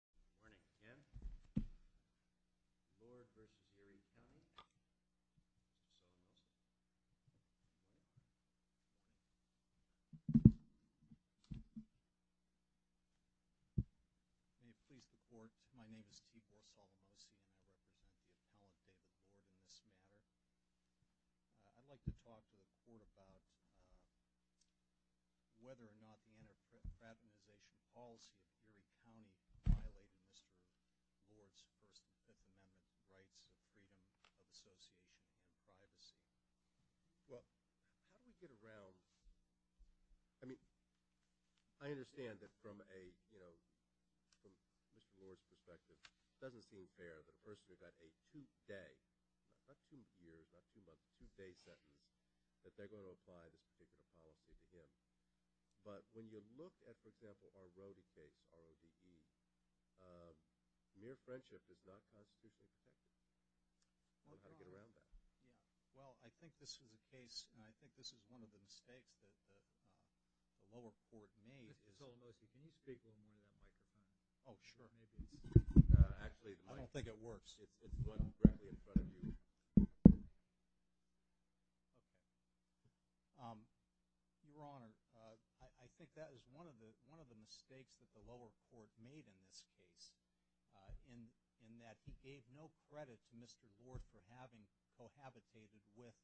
May it please the court, my name is T. Bosolamosi, and I represent the Committee of the Appellant Erie County violated Mr. Lord's First and Fifth Amendment rights of freedom of association and privacy. Well, how do we get around, I mean, I understand that from a, you know, from Mr. Lord's perspective, it doesn't seem fair that a person who got a two day, not two years, not two months, two day sentence, that they're going to apply this particular policy to him. But when you look at, for example, our Rody case, R-O-D-E, mere friendship does not constitute protection. How do we get around that? Well, I think this is a case, and I think this is one of the mistakes that the lower court made. Mr. Bosolamosi, can you speak into that microphone? Oh, sure. Maybe it's – Actually, the microphone – I don't think it works. It's going directly in front of you. Okay. Your Honor, I think that is one of the mistakes that the lower court made in this case, in that he gave no credit to Mr. Lord for having cohabitated with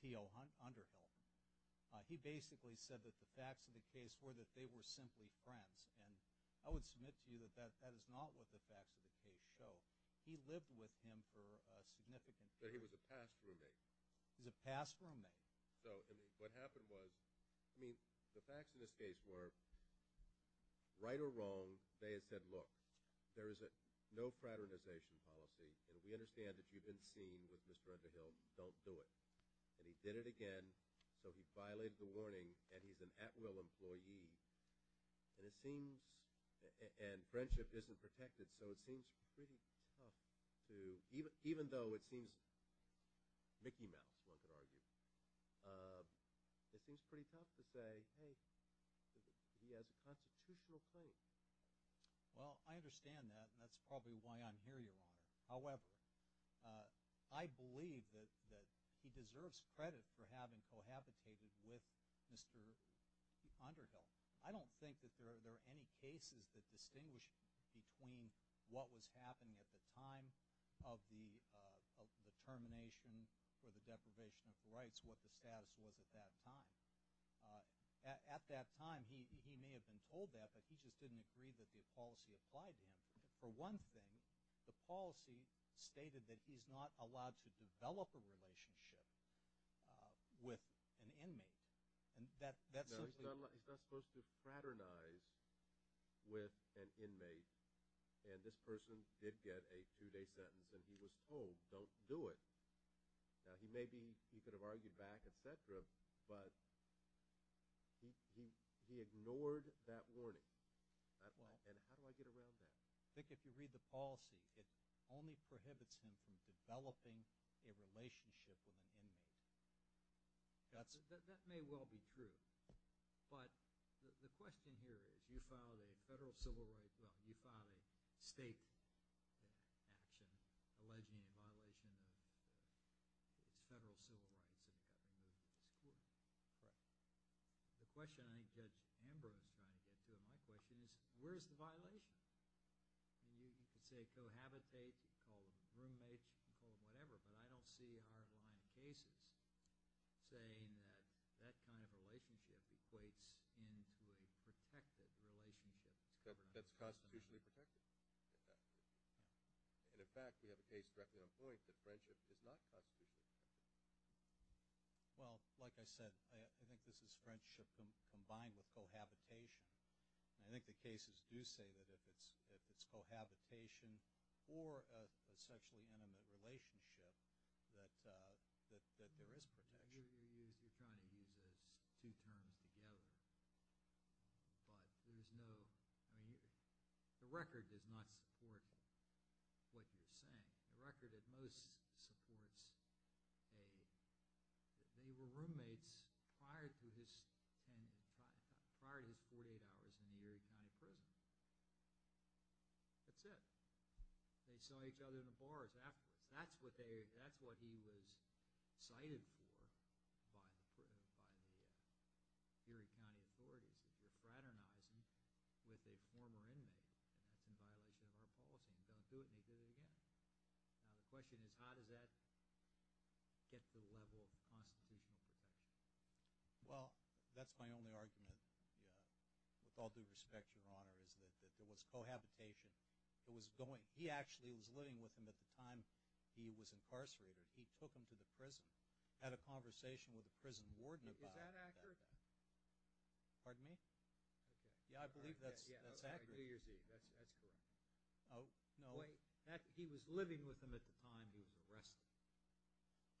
T.O. Underhill. He basically said that the facts of the case were that they were simply friends. And I would submit to you that that is not what the facts of the case show. He lived with him for a significant time. But he was a past roommate. He was a past roommate. So what happened was – I mean, the facts of this case were, right or wrong, they had said, look, there is no fraternization policy, and we understand that you've been seen with Mr. Underhill. Don't do it. And he did it again, so he violated the warning, and he's an at-will employee. And it seems – and friendship isn't protected, so it seems pretty tough to – even though it seems Mickey Mouse, one could argue, it seems pretty tough to say, hey, he has a constitutional right. Well, I understand that, and that's probably why I'm here, Your Honor. However, I believe that he deserves credit for having cohabitated with Mr. Underhill. I don't think that there are any cases that distinguish between what was happening at the time of the termination or the deprivation of the rights, what the status was at that time. At that time, he may have been told that, but he just didn't agree that the policy applied to him. For one thing, the policy stated that he's not allowed to develop a relationship with an inmate. No, he's not supposed to fraternize with an inmate. And this person did get a two-day sentence, and he was told, don't do it. Now, he may be – he could have argued back, et cetera, but he ignored that warning. And how do I get around that? I think if you read the policy, it only prohibits him from developing a relationship with an inmate. That may well be true. But the question here is, you filed a federal civil – well, you filed a state action alleging a violation of federal civil rights. But the question I think Judge Amber is trying to get to in my question is, where's the violation? You could say cohabitate, call him a roommate, call him whatever, but I don't see our line of cases saying that that kind of relationship equates into a protected relationship. That's constitutionally protected. And, in fact, you have a case directly on point that friendship does not touch people. Well, like I said, I think this is friendship combined with cohabitation. And I think the cases do say that if it's cohabitation or a sexually intimate relationship, that there is protection. The record does not support what you're saying. The record at most supports that they were roommates prior to his 48 hours in the Erie County prison. That's it. They saw each other in the bars afterwards. That's what he was cited for by the Erie County authorities. He was fraternizing with a former inmate in violation of our policy. Don't do it, and you do it again. Now the question is, how does that get to the level of the Constitution? Well, that's my only argument. With all due respect, Your Honor, is that there was cohabitation. He actually was living with him at the time he was incarcerated. He took him to the prison, had a conversation with the prison warden about that. Is that accurate? Pardon me? Yeah, I believe that's accurate. New Year's Eve, that's correct. Oh, no. He was living with him at the time he was arrested.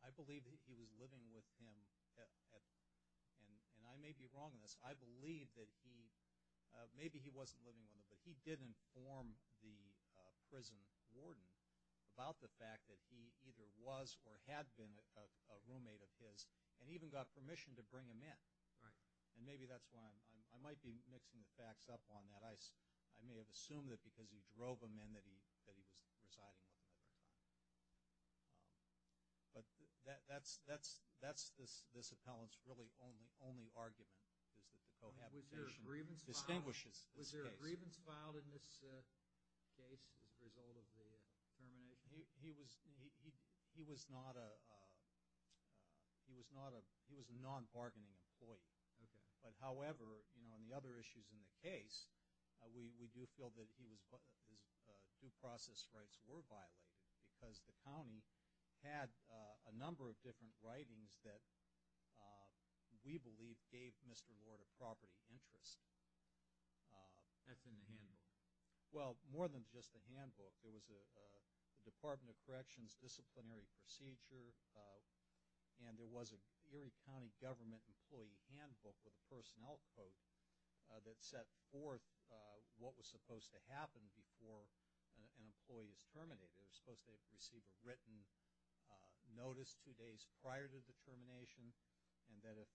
I believe that he was living with him at the time. And I may be wrong on this. I believe that he – maybe he wasn't living with him, but he did inform the prison warden about the fact that he either was or had been a roommate of his and even got permission to bring him in. And maybe that's why I'm – I might be mixing the facts up on that. I may have assumed that because he drove him in that he was residing with him. But that's this appellant's really only argument, is that the cohabitation distinguishes this case. Was there a grievance filed in this case as a result of the termination? He was not a – he was a non-bargaining employee. But, however, on the other issues in the case, we do feel that his due process rights were violated because the county had a number of different writings that we believe gave Mr. Lord a property interest. That's in the handbook. Well, more than just the handbook. There was a Department of Corrections disciplinary procedure, and there was an Erie County government employee handbook with a personnel quote that set forth what was supposed to happen before an employee is terminated. They were supposed to receive a written notice two days prior to the termination and that if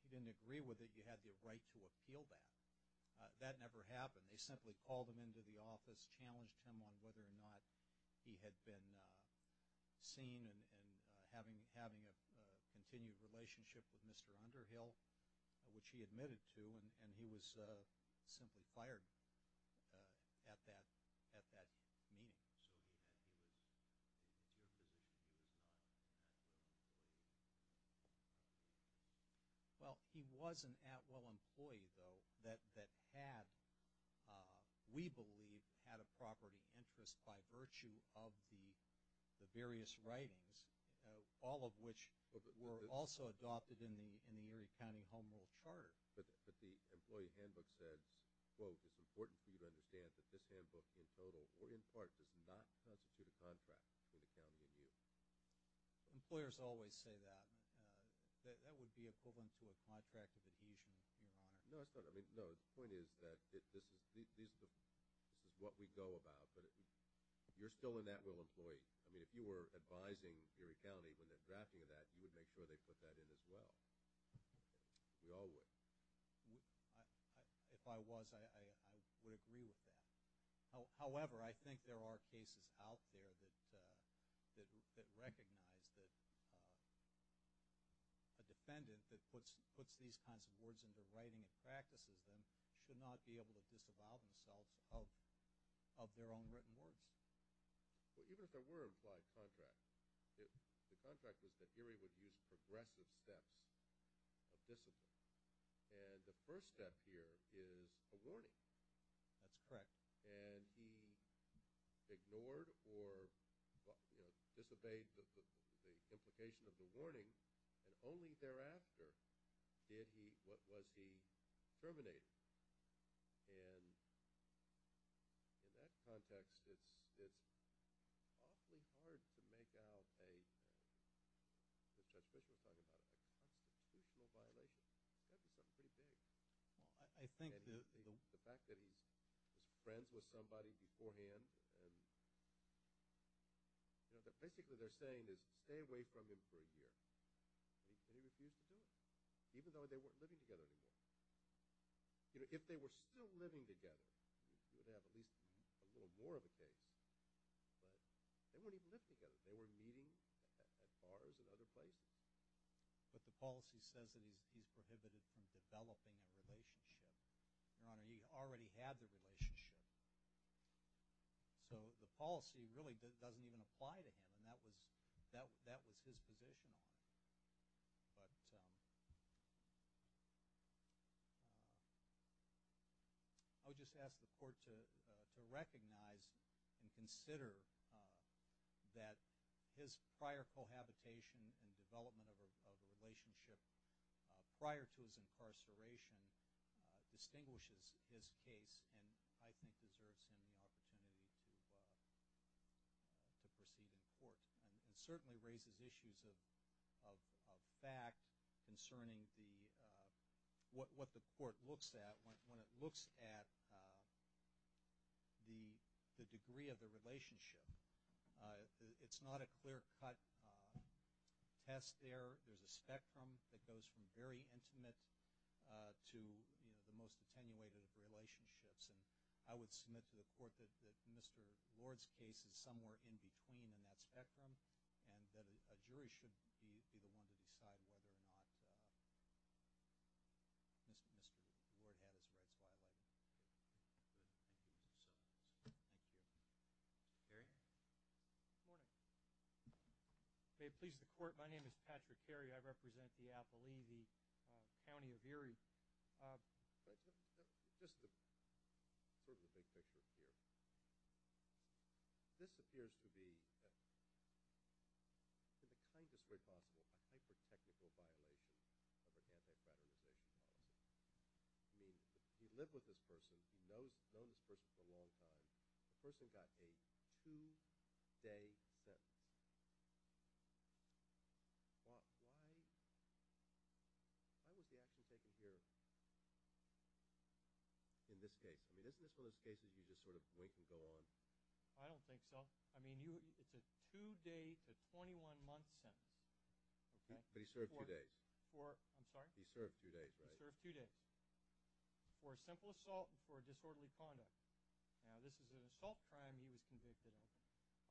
you didn't agree with it, you had the right to appeal that. That never happened. They simply called him into the office, challenged him on whether or not he had been seen and having a continued relationship with Mr. Underhill, which he admitted to, and he was simply fired at that meeting. Well, he was an Atwell employee, though, that had, we believe, had a property interest by virtue of the various writings, all of which were also adopted in the Erie County Home Rule Charter. But the employee handbook said, well, it's important for you to understand that this handbook in total or in part does not constitute a contract for the county to use. Employers always say that. That would be equivalent to a contract of adhesion, Your Honor. No, it's not. I mean, no, the point is that this is what we go about. You're still an Atwell employee. I mean, if you were advising Erie County when they're drafting that, you would make sure they put that in as well. We all would. If I was, I would agree with that. However, I think there are cases out there that recognize that a defendant that puts these kinds of words into the writing of practices should not be able to disavow themselves of their own written words. Even if there were implied contracts, the contract is that Erie would use progressive steps of discipline. And the first step here is a warning. That's correct. And he ignored or disobeyed the implication of the warning, and only thereafter did he, what was he, terminate it. And in that context, it's awfully hard to make out a constitutional violation. That's pretty big. The fact that he's friends with somebody beforehand. Basically, what they're saying is stay away from him for a year. And he refused to do it, even though they weren't living together anymore. If they were still living together, you would have at least a little more of a case. But they weren't even living together. They were meeting at bars and other places. But the policy says that he's prohibited from developing a relationship. Your Honor, he already had the relationship. So the policy really doesn't even apply to him, and that was his position. I would just ask the Court to recognize and consider that his prior cohabitation and development of a relationship prior to his incarceration distinguishes his case. And I think it deserves an opportunity to proceed in court. And it certainly raises issues of fact concerning what the Court looks at when it looks at the degree of the relationship. It's not a clear-cut test there. There's a spectrum that goes from very intimate to the most attenuated of relationships. And I would submit to the Court that Mr. Ward's case is somewhere in between in that spectrum and that a jury should be the one to decide whether or not Mr. Ward had as well as I did. Thank you. Jerry? Good morning. If it pleases the Court, my name is Patrick Carey. I represent the Appalachee County of Erie. Just a quirky thing to say to you. This appears to be, to the kindest way possible, a hyper-technical violation of a federal statute. You live with this person. You've known this person for a long time. The person got a two-day sentence. Why was the action taken here in this case? I mean, isn't this one of those cases you just sort of wait to go on? I don't think so. I mean, it's a two-day to 21-month sentence. But he served two days. I'm sorry? He served two days, right? He served two days for a simple assault and for disorderly conduct. Now, this is an assault crime he was convicted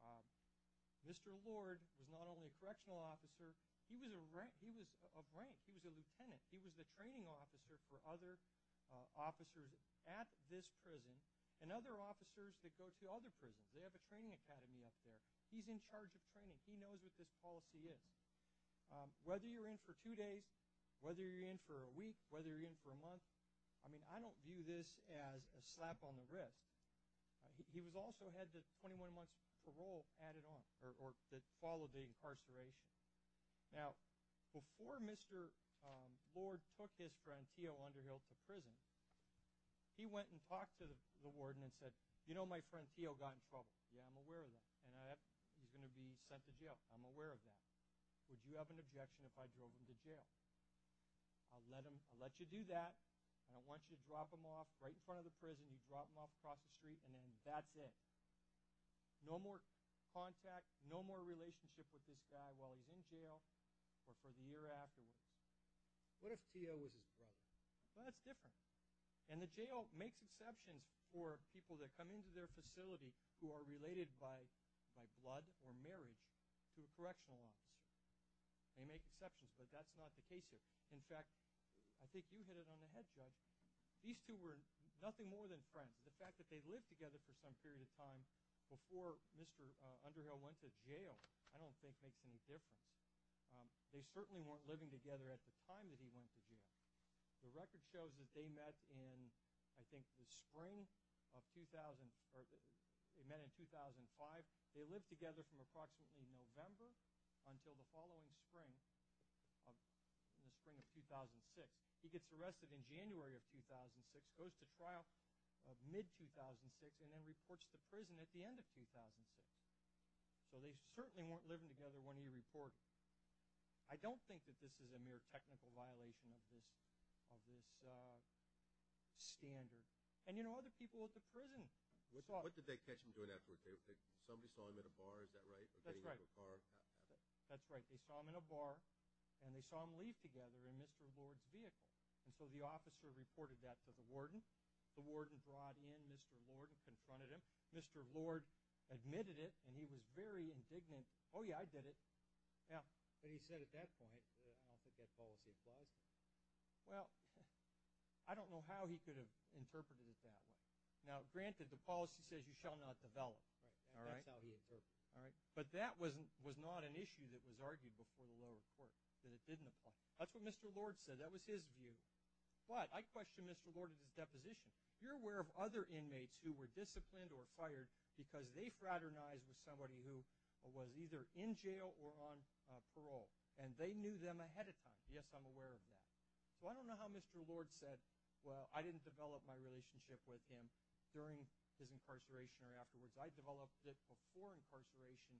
of. Mr. Ward was not only a correctional officer, he was a rank. He was a lieutenant. He was the training officer for other officers at this prison and other officers that go to other prisons. They have a training academy up there. He's in charge of training. He knows what this policy is. Whether you're in for two days, whether you're in for a week, whether you're in for a month, I mean, I don't view this as a slap on the wrist. He also had the 21-month parole added on or that followed the incarceration. Now, before Mr. Ward took his friend T.O. Underhill to prison, he went and talked to the warden and said, You know, my friend T.O. got in trouble. Yeah, I'm aware of that. And he's going to be sent to jail. I'm aware of that. Would you have an objection if I drove him to jail? I'll let you do that. And I want you to drop him off right in front of the prison, drop him off across the street, and then that's it. No more contact, no more relationship with this guy while he's in jail or for the year afterwards. What if T.O. was his brother? Well, that's different. And the jail makes exceptions for people that come into their facility who are related by blood or marriage to the correctional officers. They make exceptions, but that's not the case here. In fact, I think you hit it on the head, Judge. These two were nothing more than friends. The fact that they lived together for some period of time before Mr. Underhill went to jail I don't think makes any difference. They certainly weren't living together at the time that he went to jail. The record shows that they met in, I think, the spring of 2000 or they met in 2005. They lived together from approximately November until the following spring, the spring of 2006. He gets arrested in January of 2006, goes to trial mid-2006, and then reports to prison at the end of 2006. So they certainly weren't living together when he reported. I don't think that this is a mere technical violation of this standard. And, you know, other people at the prison. What did they catch him doing afterwards? Somebody saw him in a bar, is that right? That's right. That's right. They saw him in a bar, and they saw him leave together in Mr. Lord's vehicle. And so the officer reported that to the warden. The warden brought in Mr. Lord and confronted him. Mr. Lord admitted it, and he was very indignant. Oh, yeah, I did it. But he said at that point, I think that policy applies. Well, I don't know how he could have interpreted it that way. Now, granted, the policy says you shall not develop. That's how he interpreted it. But that was not an issue that was argued before the lower court, that it didn't apply. That's what Mr. Lord said. That was his view. But I question Mr. Lord and his deposition. You're aware of other inmates who were disciplined or fired because they fraternized with somebody who was either in jail or on parole. And they knew them ahead of time. Yes, I'm aware of that. Well, I don't know how Mr. Lord said, well, I didn't develop my relationship with him during his incarceration or afterwards. I developed it before incarceration.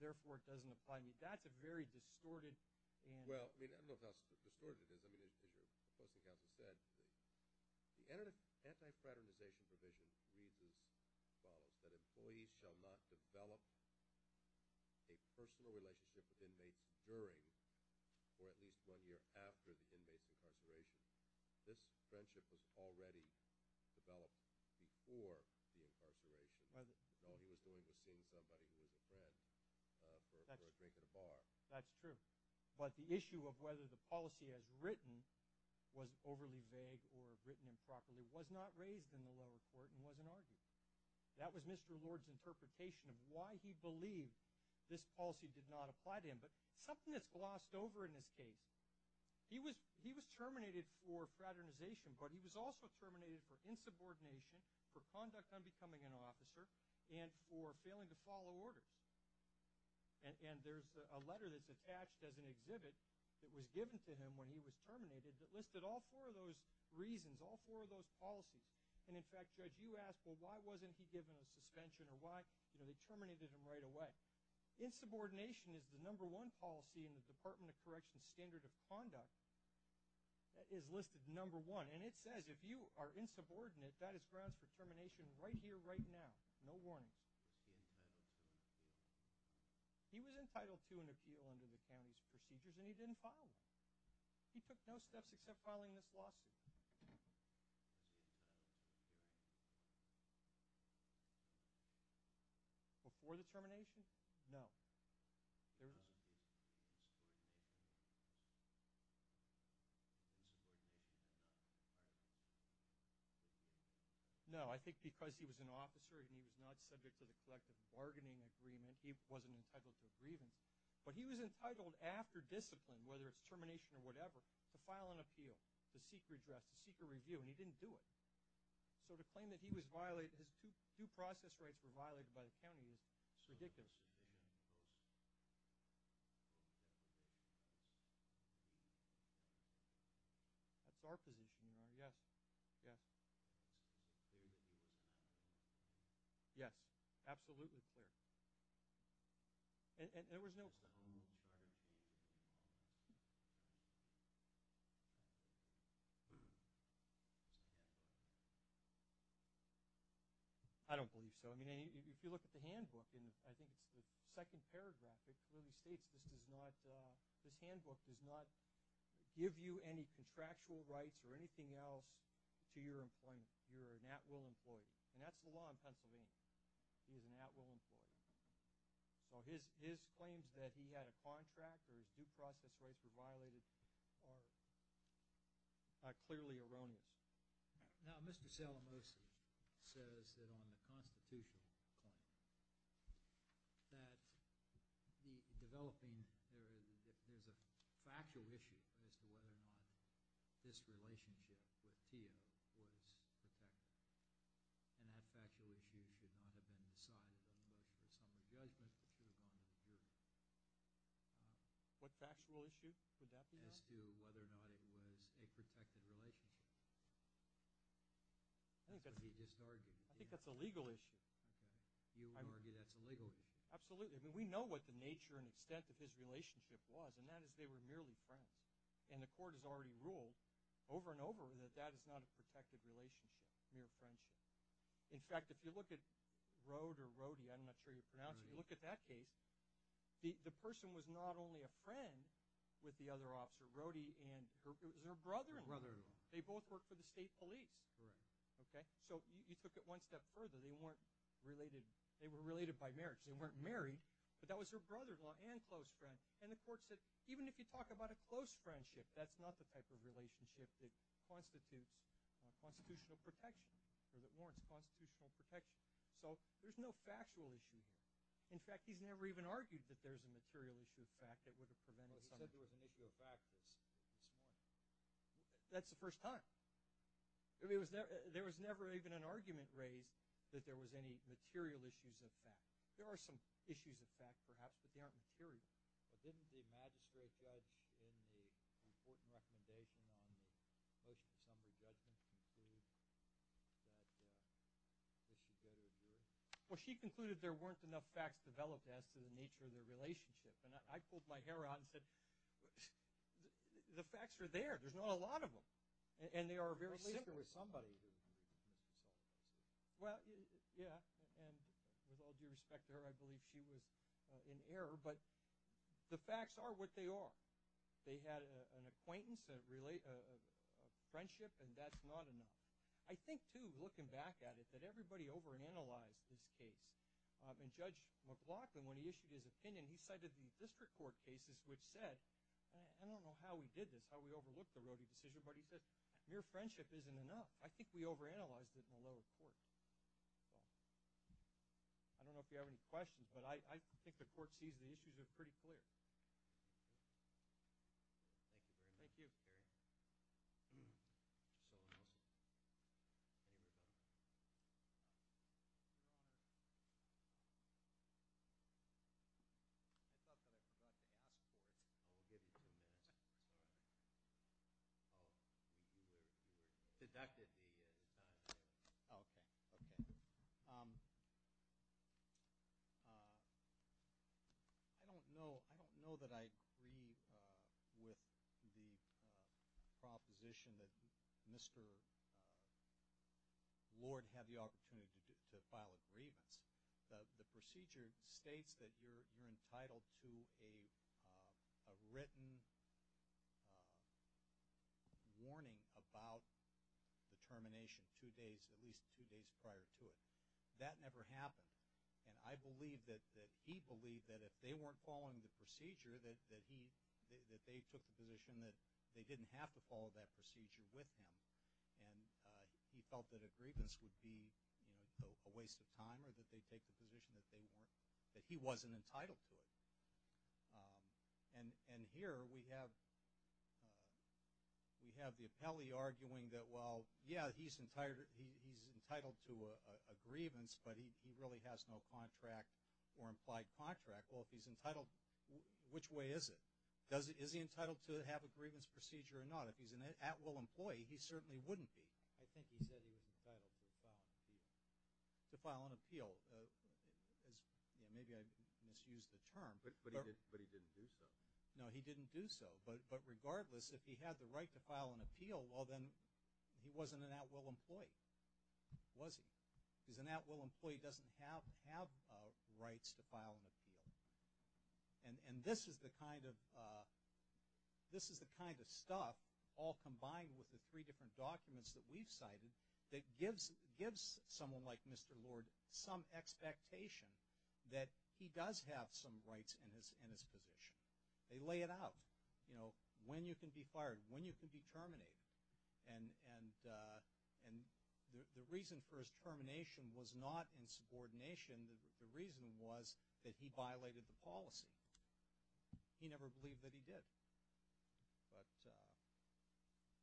Therefore, it doesn't apply to me. That's a very distorted answer. Well, I mean, I don't know how distorted it is. I mean, as the counsel said, the anti-fraternization provision really follows. That employees shall not develop a personal relationship with inmates during or at least one year after the inmate's incarceration. This friendship was already developed before the incarceration. He was going to see somebody who was dead for a drink at a bar. That's true. But the issue of whether the policy as written was overly vague or written improperly was not raised in the lower court and wasn't argued. That was Mr. Lord's interpretation of why he believed this policy did not apply to him. But something that's glossed over in this case, he was terminated for fraternization. But he was also terminated for insubordination, for conduct unbecoming an officer, and for failing to follow order. And there's a letter that's attached as an exhibit that was given to him when he was terminated that listed all four of those reasons, all four of those policies. And, in fact, Judge, you asked, well, why wasn't he given a suspension or why, you know, they terminated him right away. Insubordination is the number one policy in the Department of Correction's standard of conduct. That is listed number one. And it says if you are insubordinate, that is grounds for termination right here, right now. No warning. He was entitled to an appeal under the county's procedures, and he didn't follow it. He took no steps except filing this lawsuit. Before the termination? No. No, I think because he was an officer and he was not subject to the collective bargaining agreement, he wasn't entitled to a grievance. But he was entitled after discipline, whether it's termination or whatever, to file an appeal, to seek redress, to seek a review, and he didn't do it. So to claim that he was violated, his due process rights were violated by the county is ridiculous. That's our position now. Yes, yes. Yes, absolutely clear. There was no – I don't believe so. I mean if you look at the handbook, I think it's the second paragraph that really states this does not – this handbook does not give you any contractual rights or anything else to your employment. You're an at-will employee. And that's the law in Pennsylvania. He's an at-will employee. So his claims that he had a contract or his due process rights were violated are clearly erroneous. Now, Mr. Salamosi says that on the constitutional claim that the developing area, that there's a factual issue as to whether or not this relationship with Tia was protected. And that factual issue should not have been decided unless there was some judgment that he wanted to do. What factual issue could that be on? As to whether or not it was a protected relationship that he just argued. I think that's a legal issue. You would argue that's a legal issue. Absolutely. I mean we know what the nature and extent of his relationship was, and that is they were merely friends. And the court has already ruled over and over that that is not a protected relationship, mere friendship. In fact, if you look at Rode or Rode, I'm not sure you pronounce it. Rode. If you look at that case, the person was not only a friend with the other officer, Rode, it was her brother-in-law. Her brother-in-law. They both worked for the state police. Correct. So you took it one step further. They were related by marriage. They weren't married, but that was her brother-in-law and close friend. And the court said even if you talk about a close friendship, that's not the type of relationship that constitutes constitutional protection or that warrants constitutional protection. So there's no factual issue here. In fact, he's never even argued that there's a material issue of fact that would have prevented something. Except there was a material fact that's not. That's the first time. There was never even an argument raised that there was any material issues of fact. There are some issues of fact, perhaps, but they aren't material. But didn't the magistrate judge in the important recommendation on the motion to assembly judgment conclude that this should go to review? Well, she concluded there weren't enough facts developed as to the nature of their relationship. And I pulled my hair out and said, the facts are there. There's not a lot of them. And they are very simple. At least there was somebody. Well, yeah, and with all due respect to her, I believe she was in error. But the facts are what they are. They had an acquaintance, a friendship, and that's not enough. I think, too, looking back at it, that everybody overanalyzed this case. And Judge McLaughlin, when he issued his opinion, he cited the district court cases which said, I don't know how we did this, how we overlooked the Rody decision, but mere friendship isn't enough. I think we overanalyzed it in a low court. I don't know if you have any questions, but I think the court sees the issues are pretty clear. Thank you very much. Thank you. I don't know that I agree with the proposition that Mr. Lord had the opportunity to file a grievance. The procedure states that you're entitled to a written warning about the termination two days, at least two days prior to it. That never happened. And I believe that he believed that if they weren't following the procedure, that they took the position that they didn't have to follow that procedure with him. And he felt that a grievance would be a waste of time or that they'd take the position that he wasn't entitled to it. And here we have the appellee arguing that, well, yeah, he's entitled to a grievance, but he really has no contract or implied contract. Well, if he's entitled, which way is it? Is he entitled to have a grievance procedure or not? If he's an at-will employee, he certainly wouldn't be. I think he said he was entitled to file an appeal. To file an appeal. Maybe I misused the term. But he didn't do so. No, he didn't do so. But regardless, if he had the right to file an appeal, well, then he wasn't an at-will employee. He wasn't. Because an at-will employee doesn't have rights to file an appeal. And this is the kind of stuff, all combined with the three different documents that we've cited, that gives someone like Mr. Lord some expectation that he does have some rights in his position. They lay it out. You know, when you can be fired, when you can be terminated. And the reason for his termination was not in subordination. The reason was that he violated the policy. He never believed that he did. But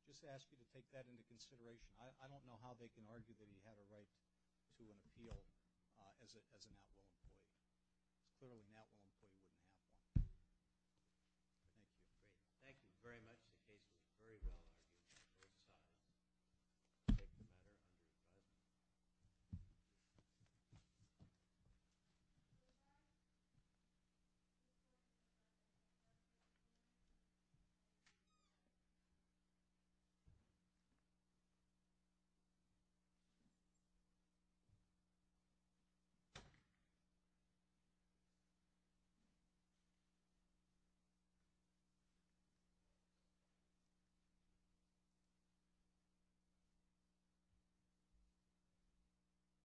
I just ask you to take that into consideration. I don't know how they can argue that he had a right to an appeal as an at-will employee. Clearly, an at-will employee wouldn't have that. Thank you. Great. Thank you very much. The case is very well argued. We're excited to take the matter into the public. Thank you.